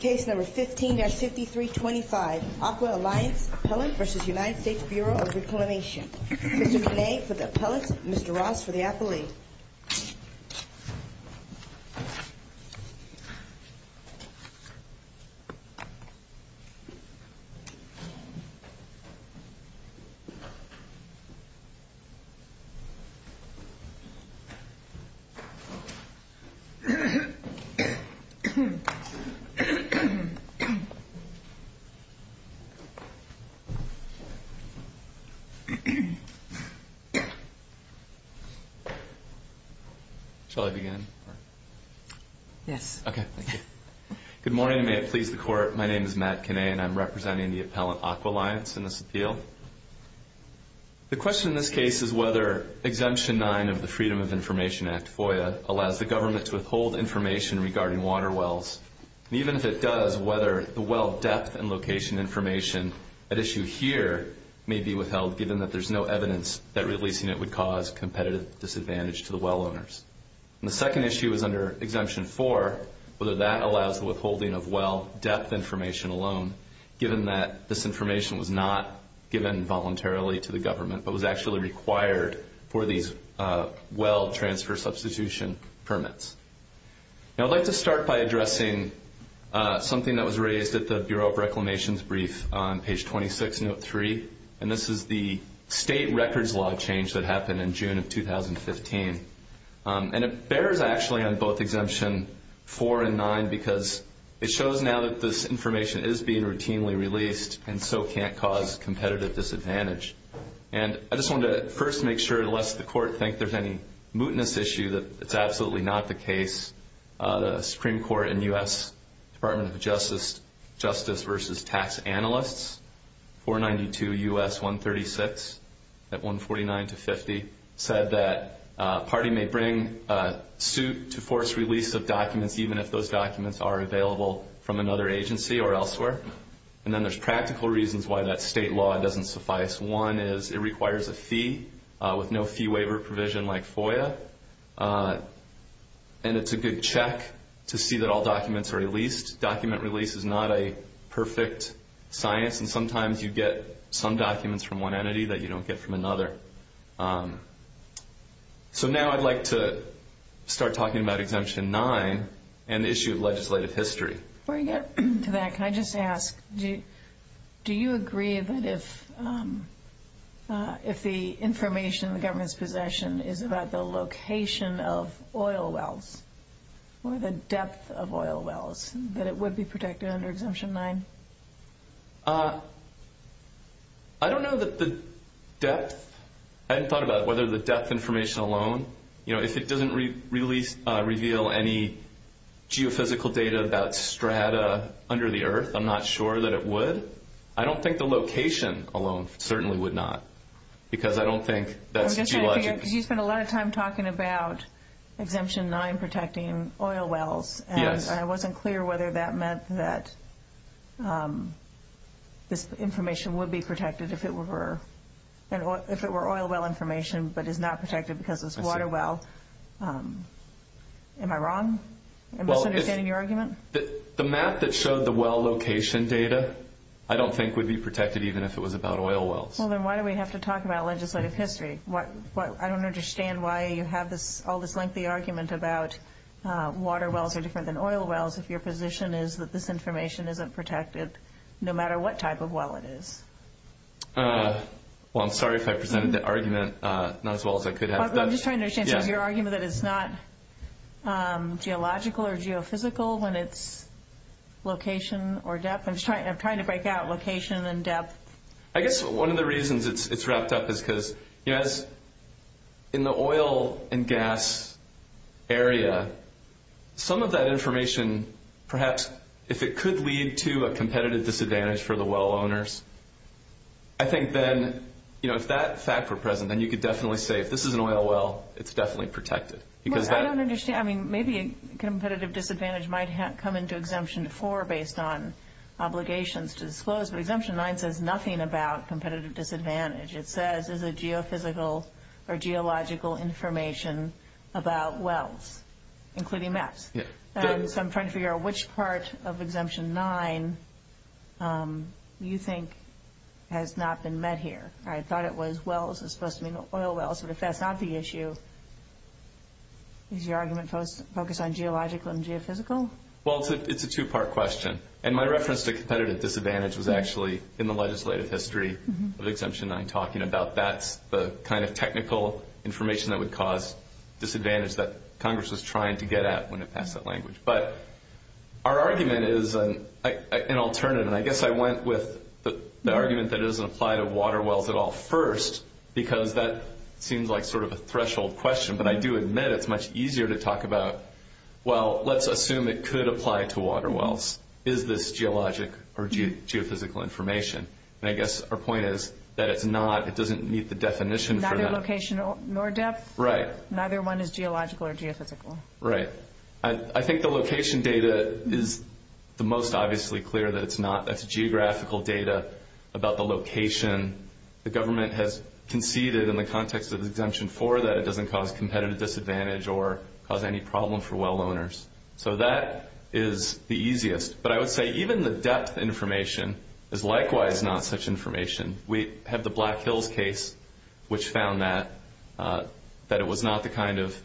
Case number 15-5325, AquaAlliance Appellant v. United States Bureau of Reclamation. Mr. Gennet for the appellant, Mr. Ross for the appellee. Shall I begin? Yes. Okay, thank you. Good morning and may it please the Court, my name is Matt Gennet and I'm representing the appellant AquaAlliance in this appeal. The question in this case is whether Exemption 9 of the Freedom of Information Act FOIA allows the does, whether the well depth and location information at issue here may be withheld given that there's no evidence that releasing it would cause competitive disadvantage to the well owners. And the second issue is under Exemption 4, whether that allows the withholding of well depth information alone given that this information was not given voluntarily to the government but was actually required for these well transfer substitution permits. Now I'd like to start by addressing something that was raised at the Bureau of Reclamation's brief on page 26, note 3, and this is the state records law change that happened in June of 2015. And it bears actually on both Exemption 4 and 9 because it shows now that this information is being routinely released and so can't cause competitive disadvantage. And I just wanted to first make sure, lest the Court think there's any mootness issue that it's absolutely not the case. The Supreme Court in the U.S. Department of Justice, Justice versus Tax Analysts, 492 U.S. 136 at 149 to 50, said that a party may bring a suit to force release of documents even if those documents are available from another agency or elsewhere. And then there's practical reasons why that state law doesn't suffice. One is it requires a fee with no fee waiver provision like FOIA. And it's a good check to see that all documents are released. Document release is not a perfect science and sometimes you get some documents from one entity that you don't get from another. So now I'd like to start talking about Exemption 9 and the issue of legislative history. Before you get to that, can I just ask, do you agree that if the information the government's possession is about the location of oil wells or the depth of oil wells, that it would be protected under Exemption 9? I don't know that the depth, I haven't thought about whether the depth information alone, if it doesn't really reveal any geophysical data about strata under the earth, I'm not sure that it would. I don't think the location alone certainly would not because I don't think that's geologic. You spend a lot of time talking about Exemption 9 protecting oil wells and I wasn't clear whether that meant that this information would be protected if it were oil well information but is not protected because it's water well. Am I wrong? Am I misunderstanding your argument? The map that showed the well location data, I don't think would be protected even if it was about oil wells. Well then why do we have to talk about legislative history? I don't understand why you have all this lengthy argument about water wells are different than oil wells if your position is that this information isn't protected no matter what type of well it is. Well I'm sorry if I presented the argument not as well as I could have. I'm just trying to understand so your argument that it's not geological or geophysical when it's location or depth. I'm trying to break out location and depth. I guess one of the reasons it's wrapped up is because in the oil and gas area, some of that information, perhaps if it could lead to a competitive disadvantage for the well owners, I think then if that fact were present, then you could definitely say if this is an oil well, it's definitely protected. I don't understand. I mean maybe a competitive disadvantage might come into Exemption 4 based on obligations to disclose but Exemption 9 says nothing about competitive disadvantage. It says it's a geophysical or geological information about wells, including maps. So I'm trying to figure out which part of Exemption 9 you think has not been met here. I thought it was wells, it's supposed to be oil wells, but if that's not the issue, is your argument focused on geological and geophysical? Well it's a two-part question. And my reference to competitive disadvantage was actually in the legislative history of Exemption 9 talking about that's the kind of technical information that would cause disadvantage that Congress was trying to get at when it passed that language. But our argument is an alternative. And I guess I went with the argument that it doesn't apply to water wells at all first because that seems like sort of a threshold question. But I do admit it's much easier to talk about, well, let's assume it could apply to water wells. Is this geologic or geophysical information? And I guess our point is that it's not, it doesn't meet the definition for that. So it's not location nor depth? Right. Neither one is geological or geophysical? Right. I think the location data is the most obviously clear that it's not. That's geographical data about the location. The government has conceded in the context of Exemption 4 that it doesn't cause competitive disadvantage or cause any problem for well owners. So that is the easiest. But I would say even the depth information is likewise not such information. We have the Black Hills case which found that, that it was not the kind of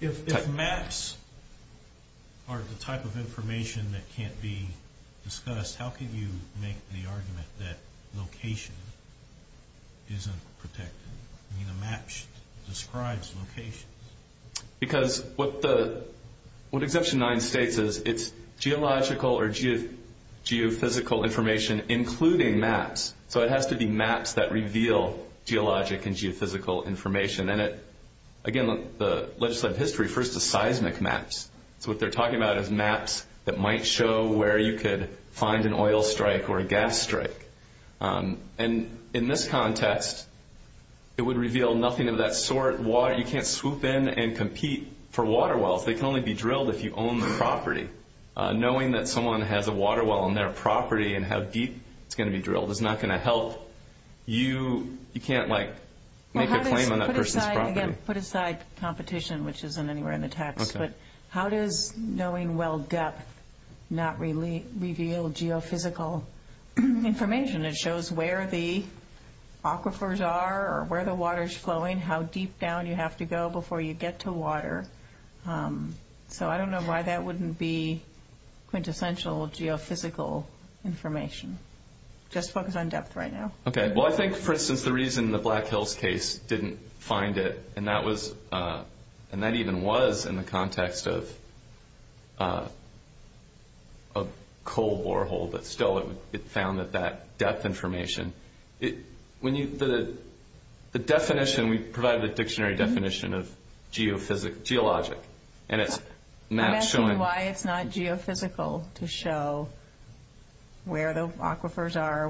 type of information. If maps are the type of information that can't be discussed, how can you make the argument that location isn't protected? I mean, a map describes location. Because what Exemption 9 states is it's geological or geophysical information including maps. So it has to be maps that reveal geologic and geophysical information. And again, the legislative history refers to seismic maps. So what they're talking about is maps that might show where you could find an oil strike or a gas strike. And in this context, it would reveal nothing of that sort. You can't swoop in and compete for water wells. They can only be drilled if you own the property. Knowing that someone has a water well on their property and how deep it's going to be drilled is not going to help you. You can't, like, make a claim on that person's property. Put aside competition, which isn't anywhere in the text. But how does knowing well depth not reveal geophysical information? It shows where the aquifers are or where the water is flowing, how deep down you have to go before you get to water. So I don't know why that wouldn't be quintessential geophysical information. Just focus on depth right now. Okay. Well, I think, for instance, the reason the Black Hills case didn't find it, and that even was in the context of a coal borehole, but still it found that depth information. The definition, we provided a dictionary definition of geologic. And it's not showing... I'm asking you why it's not geophysical to show where the aquifers are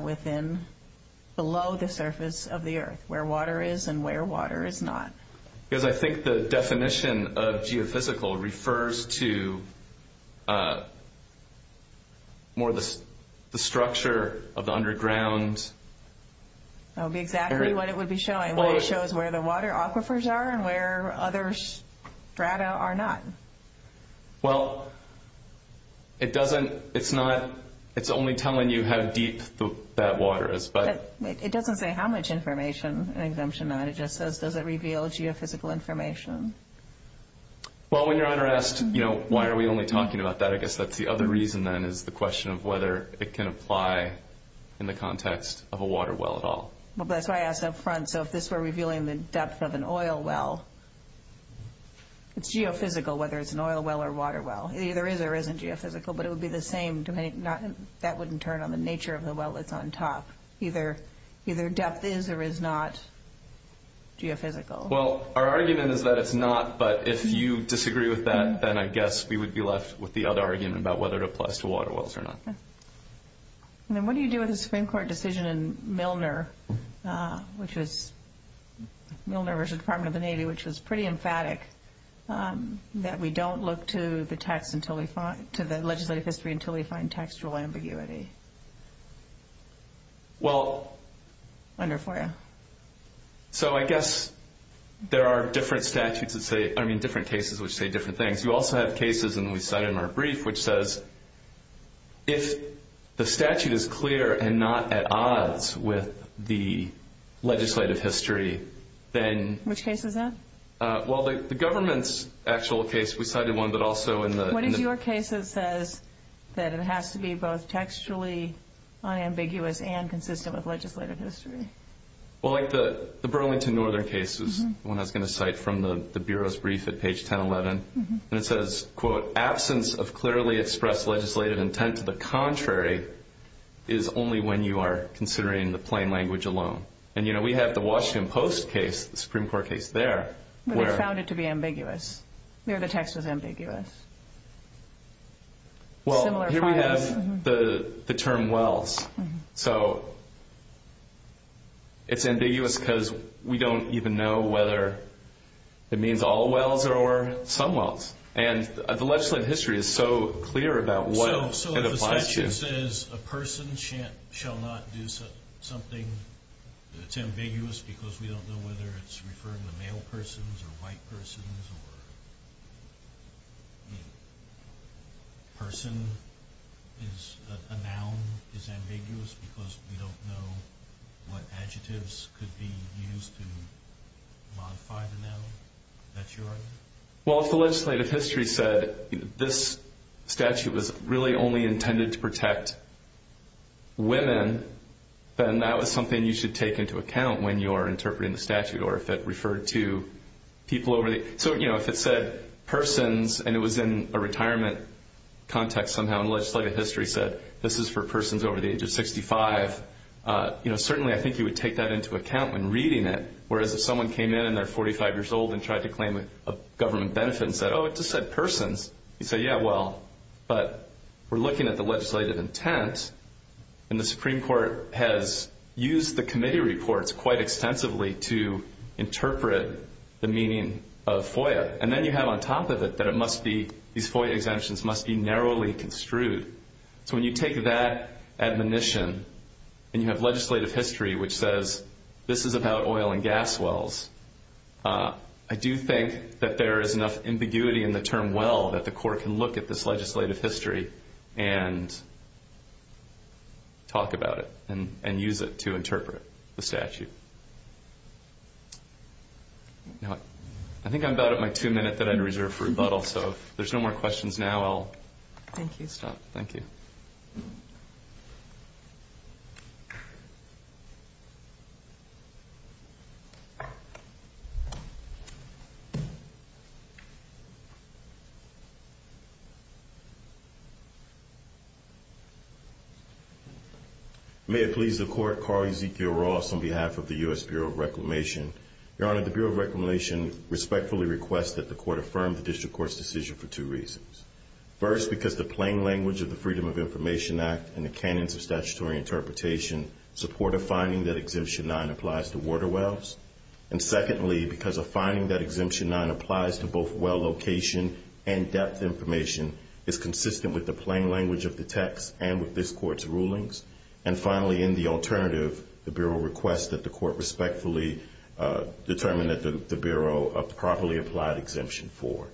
below the surface of the earth, where water is and where water is not. Because I think the definition of geophysical refers to more the structure of the underground... That would be exactly what it would be showing. It shows where the water aquifers are and where other strata are not. Well, it doesn't... It's not... It's only telling you how deep that water is, but... It doesn't say how much information in Exemption 9. It just says, does it reveal geophysical information? Well, when Your Honor asked, you know, why are we only talking about that, I guess that's the other reason, then, is the question of whether it can apply in the context of a water well at all. That's why I asked up front. So if this were revealing the depth of an oil well, it's geophysical whether it's an oil well or water well. It either is or isn't geophysical, but it would be the same... That wouldn't turn on the nature of the well that's on top. Either depth is or is not geophysical. Well, our argument is that it's not, but if you disagree with that, then I guess we would be left with the other argument about whether it applies to water wells or not. Okay. And then what do you do with the Supreme Court decision in Milner, which was Milner v. Department of the Navy, which was pretty emphatic that we don't look to the legislative history until we find textual ambiguity? Well... Under FOIA. So I guess there are different statutes that say... I mean, different cases which say different things. You also have cases, and we cite in our brief, which says if the statute is clear and not at odds with the legislative history, then... Which case is that? Well, the government's actual case, we cited one, but also in the... What is your case that says that it has to be both textually unambiguous and consistent with legislative history? Well, like the Burlington Northern case is the one I was going to cite from the Bureau's brief at page 1011. And it says, quote, absence of clearly expressed legislative intent to the contrary is only when you are considering the plain language alone. And, you know, we have the Washington Post case, the Supreme Court case there, where... But they found it to be ambiguous, where the text was ambiguous. Well, here we have the term wells. So it's ambiguous because we don't even know whether it means all wells or some wells. And the legislative history is so clear about what it applies to. So the statute says a person shall not do something that's ambiguous because we don't know whether it's referring to male persons or white persons or a person is... a noun is ambiguous because we don't know what adjectives could be used to modify the noun? That's your argument? Well, if the legislative history said this statute was really only intended to protect women, then that was something you should take into account when you are interpreting the statute or if it referred to people over the... So, you know, if it said persons and it was in a retirement context somehow and legislative history said this is for persons over the age of 65, you know, certainly I think you would take that into account when reading it. Whereas if someone came in and they're 45 years old and tried to claim a government benefit and said, oh, it just said persons, you say, yeah, well, but we're looking at the legislative intent and the Supreme Court has used the committee reports quite extensively to interpret the meaning of FOIA. And then you have on top of it that it must be... these FOIA exemptions must be narrowly construed. So when you take that admonition and you have legislative history which says this is about oil and gas wells, I do think that there is enough ambiguity in the term well that the court can look at this legislative history and talk about it and use it to interpret the statute. I think I'm about at my two minute that I'd reserve for rebuttal. So if there's no more questions now, I'll stop. Thank you. Thank you. May it please the court. Carl Ezekiel Ross on behalf of the U.S. Bureau of Reclamation. Your Honor, the Bureau of Reclamation respectfully requests that the court affirm the district court's decision for two reasons. First, because the plain language of the Freedom of Information Act and the canons of statutory interpretation support a finding that Exemption 9 applies to water wells. And secondly, because a finding that Exemption 9 applies to both well location and depth information is consistent with the plain language of the text and with this court's rulings. And finally, in the alternative, the Bureau requests that the court respectfully determine that the Bureau properly applied Exemption 4.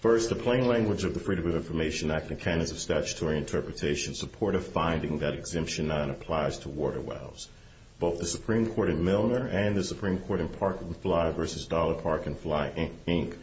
First, the plain language of the Freedom of Information Act and canons of statutory interpretation support a finding that Exemption 9 applies to water wells. Both the Supreme Court in Milner and the Supreme Court in Park and Fly v. Dollar Park and Fly, Inc.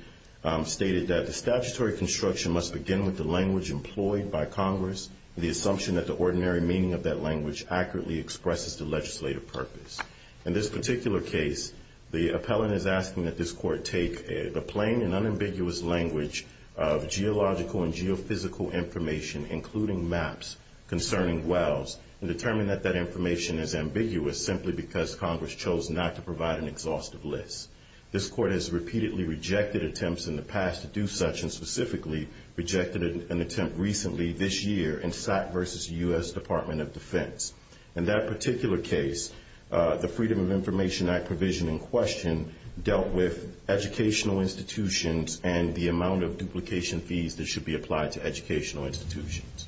stated that the statutory construction must begin with the language employed by Congress, the assumption that the ordinary meaning of that language accurately expresses the legislative purpose. In this particular case, the appellant is asking that this court take the plain and unambiguous language of geological and geophysical information, including maps, concerning wells, and determine that that information is ambiguous simply because Congress chose not to provide an exhaustive list. This court has repeatedly rejected attempts in the past to do such, and specifically rejected an attempt recently this year in SAC v. U.S. Department of Defense. In that particular case, the Freedom of Information Act provision in question dealt with educational institutions and the amount of duplication fees that should be applied to educational institutions.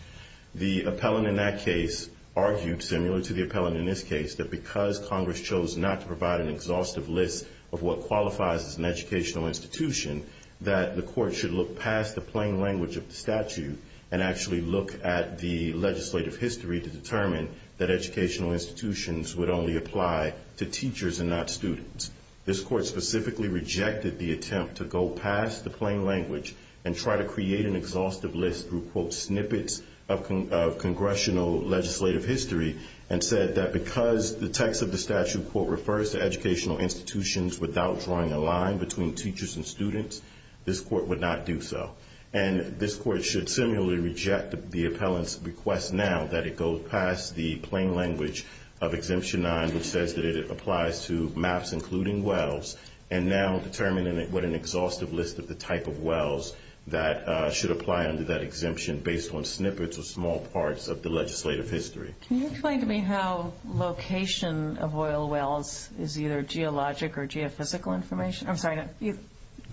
The appellant in that case argued, similar to the appellant in this case, that because Congress chose not to provide an exhaustive list of what qualifies as an educational institution, that the court should look past the plain language of the statute and actually look at the legislative history to determine that educational institutions would only apply to teachers and not students. This court specifically rejected the attempt to go past the plain language and try to create an exhaustive list through snippets of congressional legislative history and said that because the text of the statute refers to educational institutions without drawing a line between teachers and students, this court would not do so. And this court should similarly reject the appellant's request now that it go past the plain language of Exemption 9 which says that it applies to maps including wells and now determine what an exhaustive list of the type of wells that should apply under that exemption based on snippets or small parts of the legislative history. Can you explain to me how location of oil wells is either geologic or geophysical information? I'm sorry,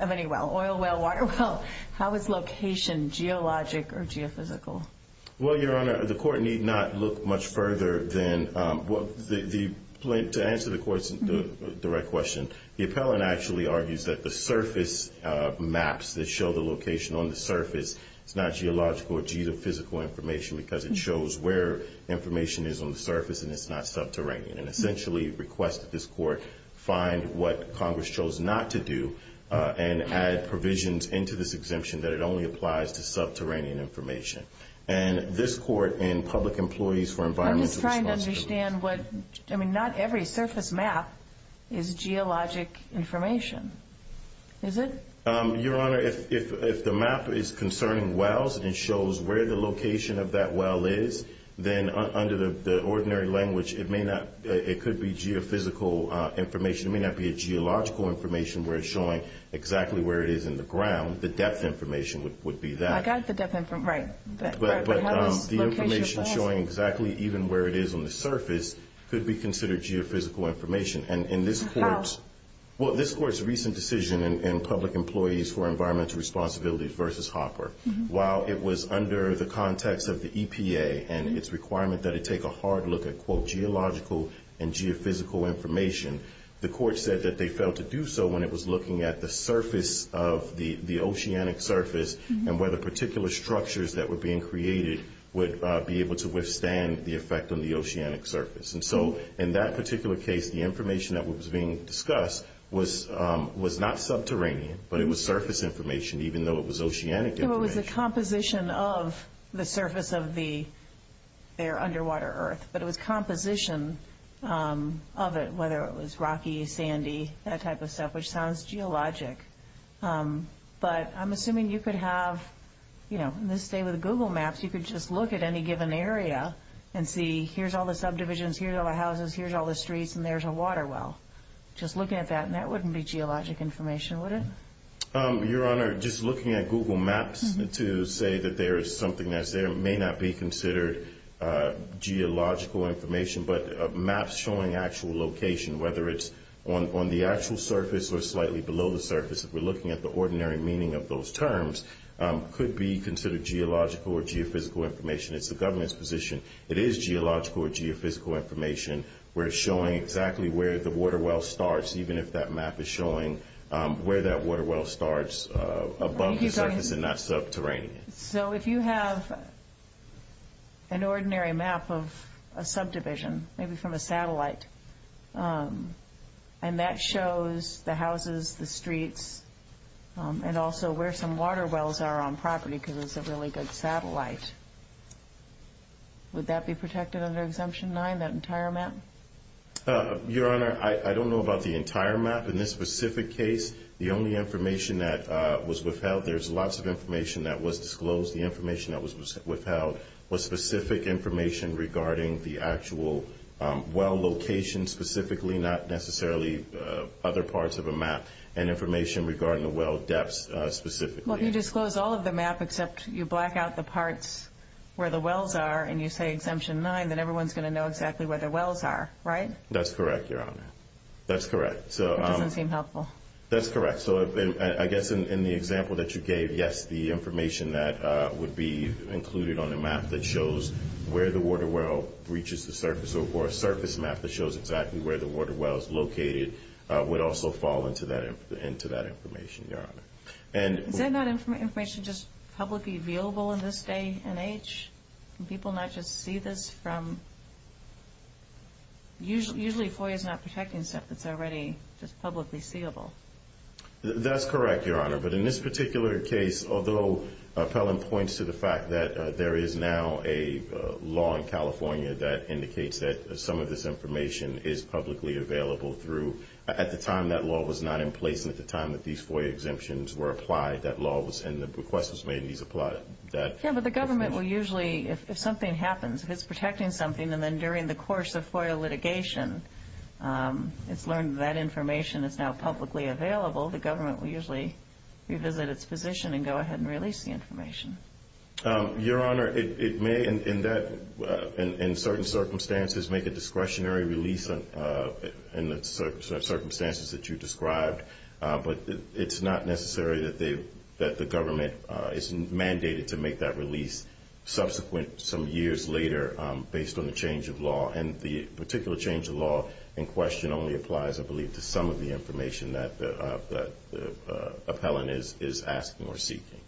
of any well, oil well, water well. How is location geologic or geophysical? Well, Your Honor, the court need not look much further than, to answer the court's direct question, the appellant actually argues that the surface maps that show the location on the surface is not geological or geophysical information because it shows where information is on the surface and it's not subterranean and essentially requested this court find what Congress chose not to do and add provisions into this exemption that it only applies to subterranean information. And this court in Public Employees for Environmental Responsibility I'm just trying to understand what... I mean, not every surface map is geologic information. Is it? Your Honor, if the map is concerning wells and it shows where the location of that well is then under the ordinary language it could be geophysical information. It may not be a geological information where it's showing exactly where it is in the ground. The depth information would be that. But the information showing exactly even where it is on the surface could be considered geophysical information. How? Well, this court's recent decision in Public Employees for Environmental Responsibility versus Hopper, while it was under the context of the EPA and its requirement that it take a hard look at, quote, geological and geophysical information the court said that they failed to do so when it was looking at the surface of the oceanic surface and whether particular structures that were being created would be able to withstand the effect on the oceanic surface. And so in that particular case the information that was being discussed was not subterranean, but it was surface information even though it was oceanic information. It was a composition of the surface of their underwater earth. But it was composition of it, whether it was rocky, sandy, that type of stuff, which sounds geologic. But I'm assuming you could have, you know, in this day with Google Maps, you could just look at any given area and see here's all the subdivisions, here's all the houses, here's all the streets, and there's a water well. Just looking at that, and that wouldn't be geologic information, would it? Your Honor, just looking at Google Maps to say that there is something that's there may not be considered geological information, but maps showing actual location, whether it's on the actual surface or slightly below the surface if we're looking at the ordinary meaning of those terms could be considered geological or geophysical information. It's the government's position. It is geological or geophysical information where it's showing exactly where the water well starts even if that map is showing where that water well starts above the surface and not subterranean. So if you have an ordinary map of a subdivision, maybe from a satellite, and that shows the houses, the streets, and also where some water wells are on property because it's a really good satellite, would that be protected under Exemption 9, that entire map? Your Honor, I don't know about the entire map. In this specific case, the only information that was withheld, there's lots of information that was disclosed. The information that was withheld was specific information regarding the actual well location specifically, not necessarily other parts of a map and information regarding the well depths specifically. Well, if you disclose all of the map except you black out the parts where the wells are and you say Exemption 9, then everyone's going to know exactly where the wells are, right? That's correct, Your Honor. That's correct. That doesn't seem helpful. That's correct. So I guess in the example that you gave, yes, the information that would be included on a map that shows where the water well reaches the surface or a surface map that shows exactly where the water well is located would also fall into that information, Your Honor. Is that not information just publicly viewable in this day and age? Can people not just see this from... Usually FOIA is not protecting stuff that's already just publicly seeable. That's correct, Your Honor. But in this particular case, although Pelham points to the fact that there is now a law in California that indicates that some of this information is publicly available through... At the time that law was not in place and at the time that these FOIA exemptions were applied, that law was in the... Yeah, but the government will usually, if something happens, if it's protecting something and then during the course of FOIA litigation it's learned that information is now publicly available, the government will usually revisit its position and go ahead and release the information. Your Honor, it may in certain circumstances make a discretionary release in the circumstances that you described, but it's not necessary that the government is mandated to make that release subsequent, some years later, based on the change of law. And the particular change of law in question only applies, I believe, to some of the information that the appellant is asking or seeking.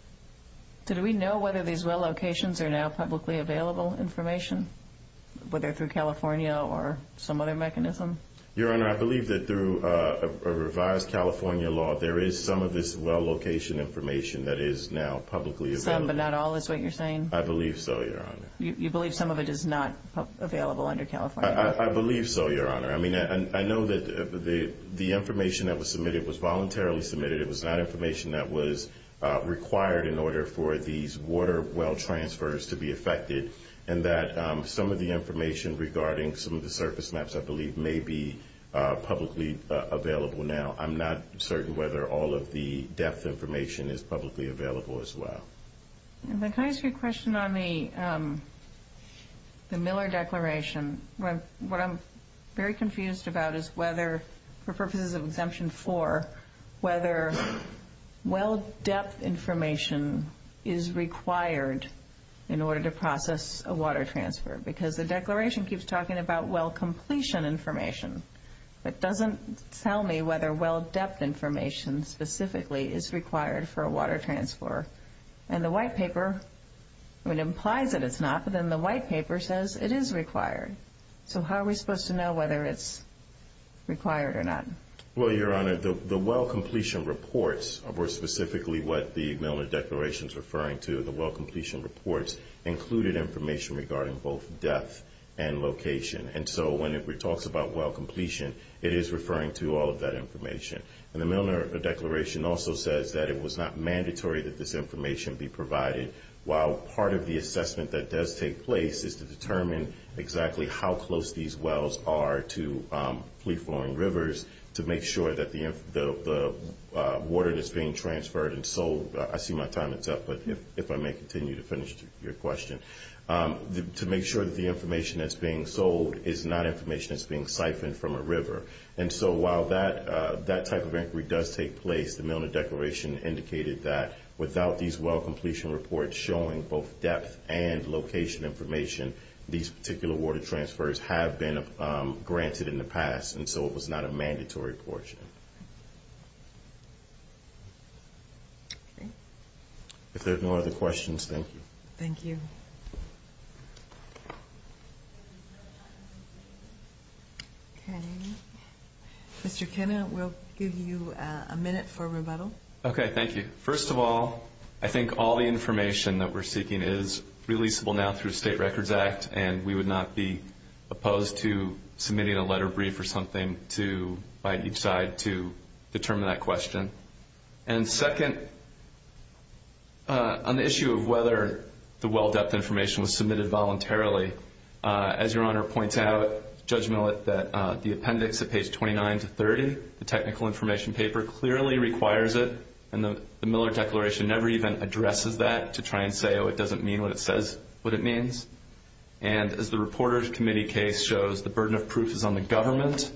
Did we know whether these well locations are now publicly available information, whether through California or some other mechanism? Your Honor, I believe that through a revised California law, there is some of this well location information that is now publicly available. Some, but not all, is what you're saying? I believe so, Your Honor. You believe some of it is not available under California law? I believe so, Your Honor. I mean, I know that the information that was submitted was voluntarily submitted. It was not information that was required in order for these water well transfers to be effected, and that some of the information regarding some of the surface maps, I believe, may be publicly available now. I'm not certain whether all of the depth information is publicly available as well. Can I ask you a question on the Miller Declaration? What I'm very confused about is whether, for purposes of Exemption 4, whether well depth information is required in order to process a water transfer because the Declaration keeps talking about well completion information, but doesn't tell me whether well depth information specifically is required for a water transfer. And the White Paper, it implies that it's not, but then the White Paper says it is required. So how are we supposed to know whether it's required or not? Well, Your Honor, the well completion reports were specifically what the Milner Declaration is referring to. The well completion reports included information regarding both depth and location. And so when it talks about well completion, it is referring to all of that information. And the Milner Declaration also says that it was not mandatory that this information be provided, while part of the assessment that does take place is to determine exactly how close these wells are to fleet-flowing rivers to make sure that the water that's being transferred and sold... I see my time is up, but if I may continue to finish your question. To make sure that the information that's being sold is not information that's being siphoned from a river. And so while that type of inquiry does take place, the Milner Declaration indicated that without these well completion reports showing both depth and location information, these particular water transfers have been granted in the past, and so it was not a mandatory portion. Okay. If there are no other questions, thank you. Thank you. Okay. Mr. Kenna, we'll give you a minute for rebuttal. Okay, thank you. First of all, I think all the information that we're seeking is releasable now through the State Records Act, and we would not be opposed to submitting a letter brief or something by each side to determine that question. And second, on the issue of whether the well depth information was submitted voluntarily, as Your Honor points out, Judge Millett, that the appendix at page 29 to 30, the technical information paper, clearly requires it, and the Milner Declaration never even addresses that to try and say, oh, it doesn't mean what it says what it means. And as the Reporters Committee case shows, the burden of proof is on the government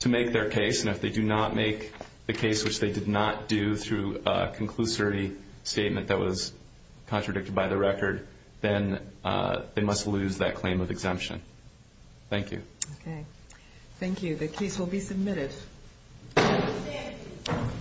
to make their case, and if they do not make the case which they did not do through a conclusory statement that was contradicted by the record, then they must lose that claim of exemption. Thank you. Okay. Thank you. The case will be submitted.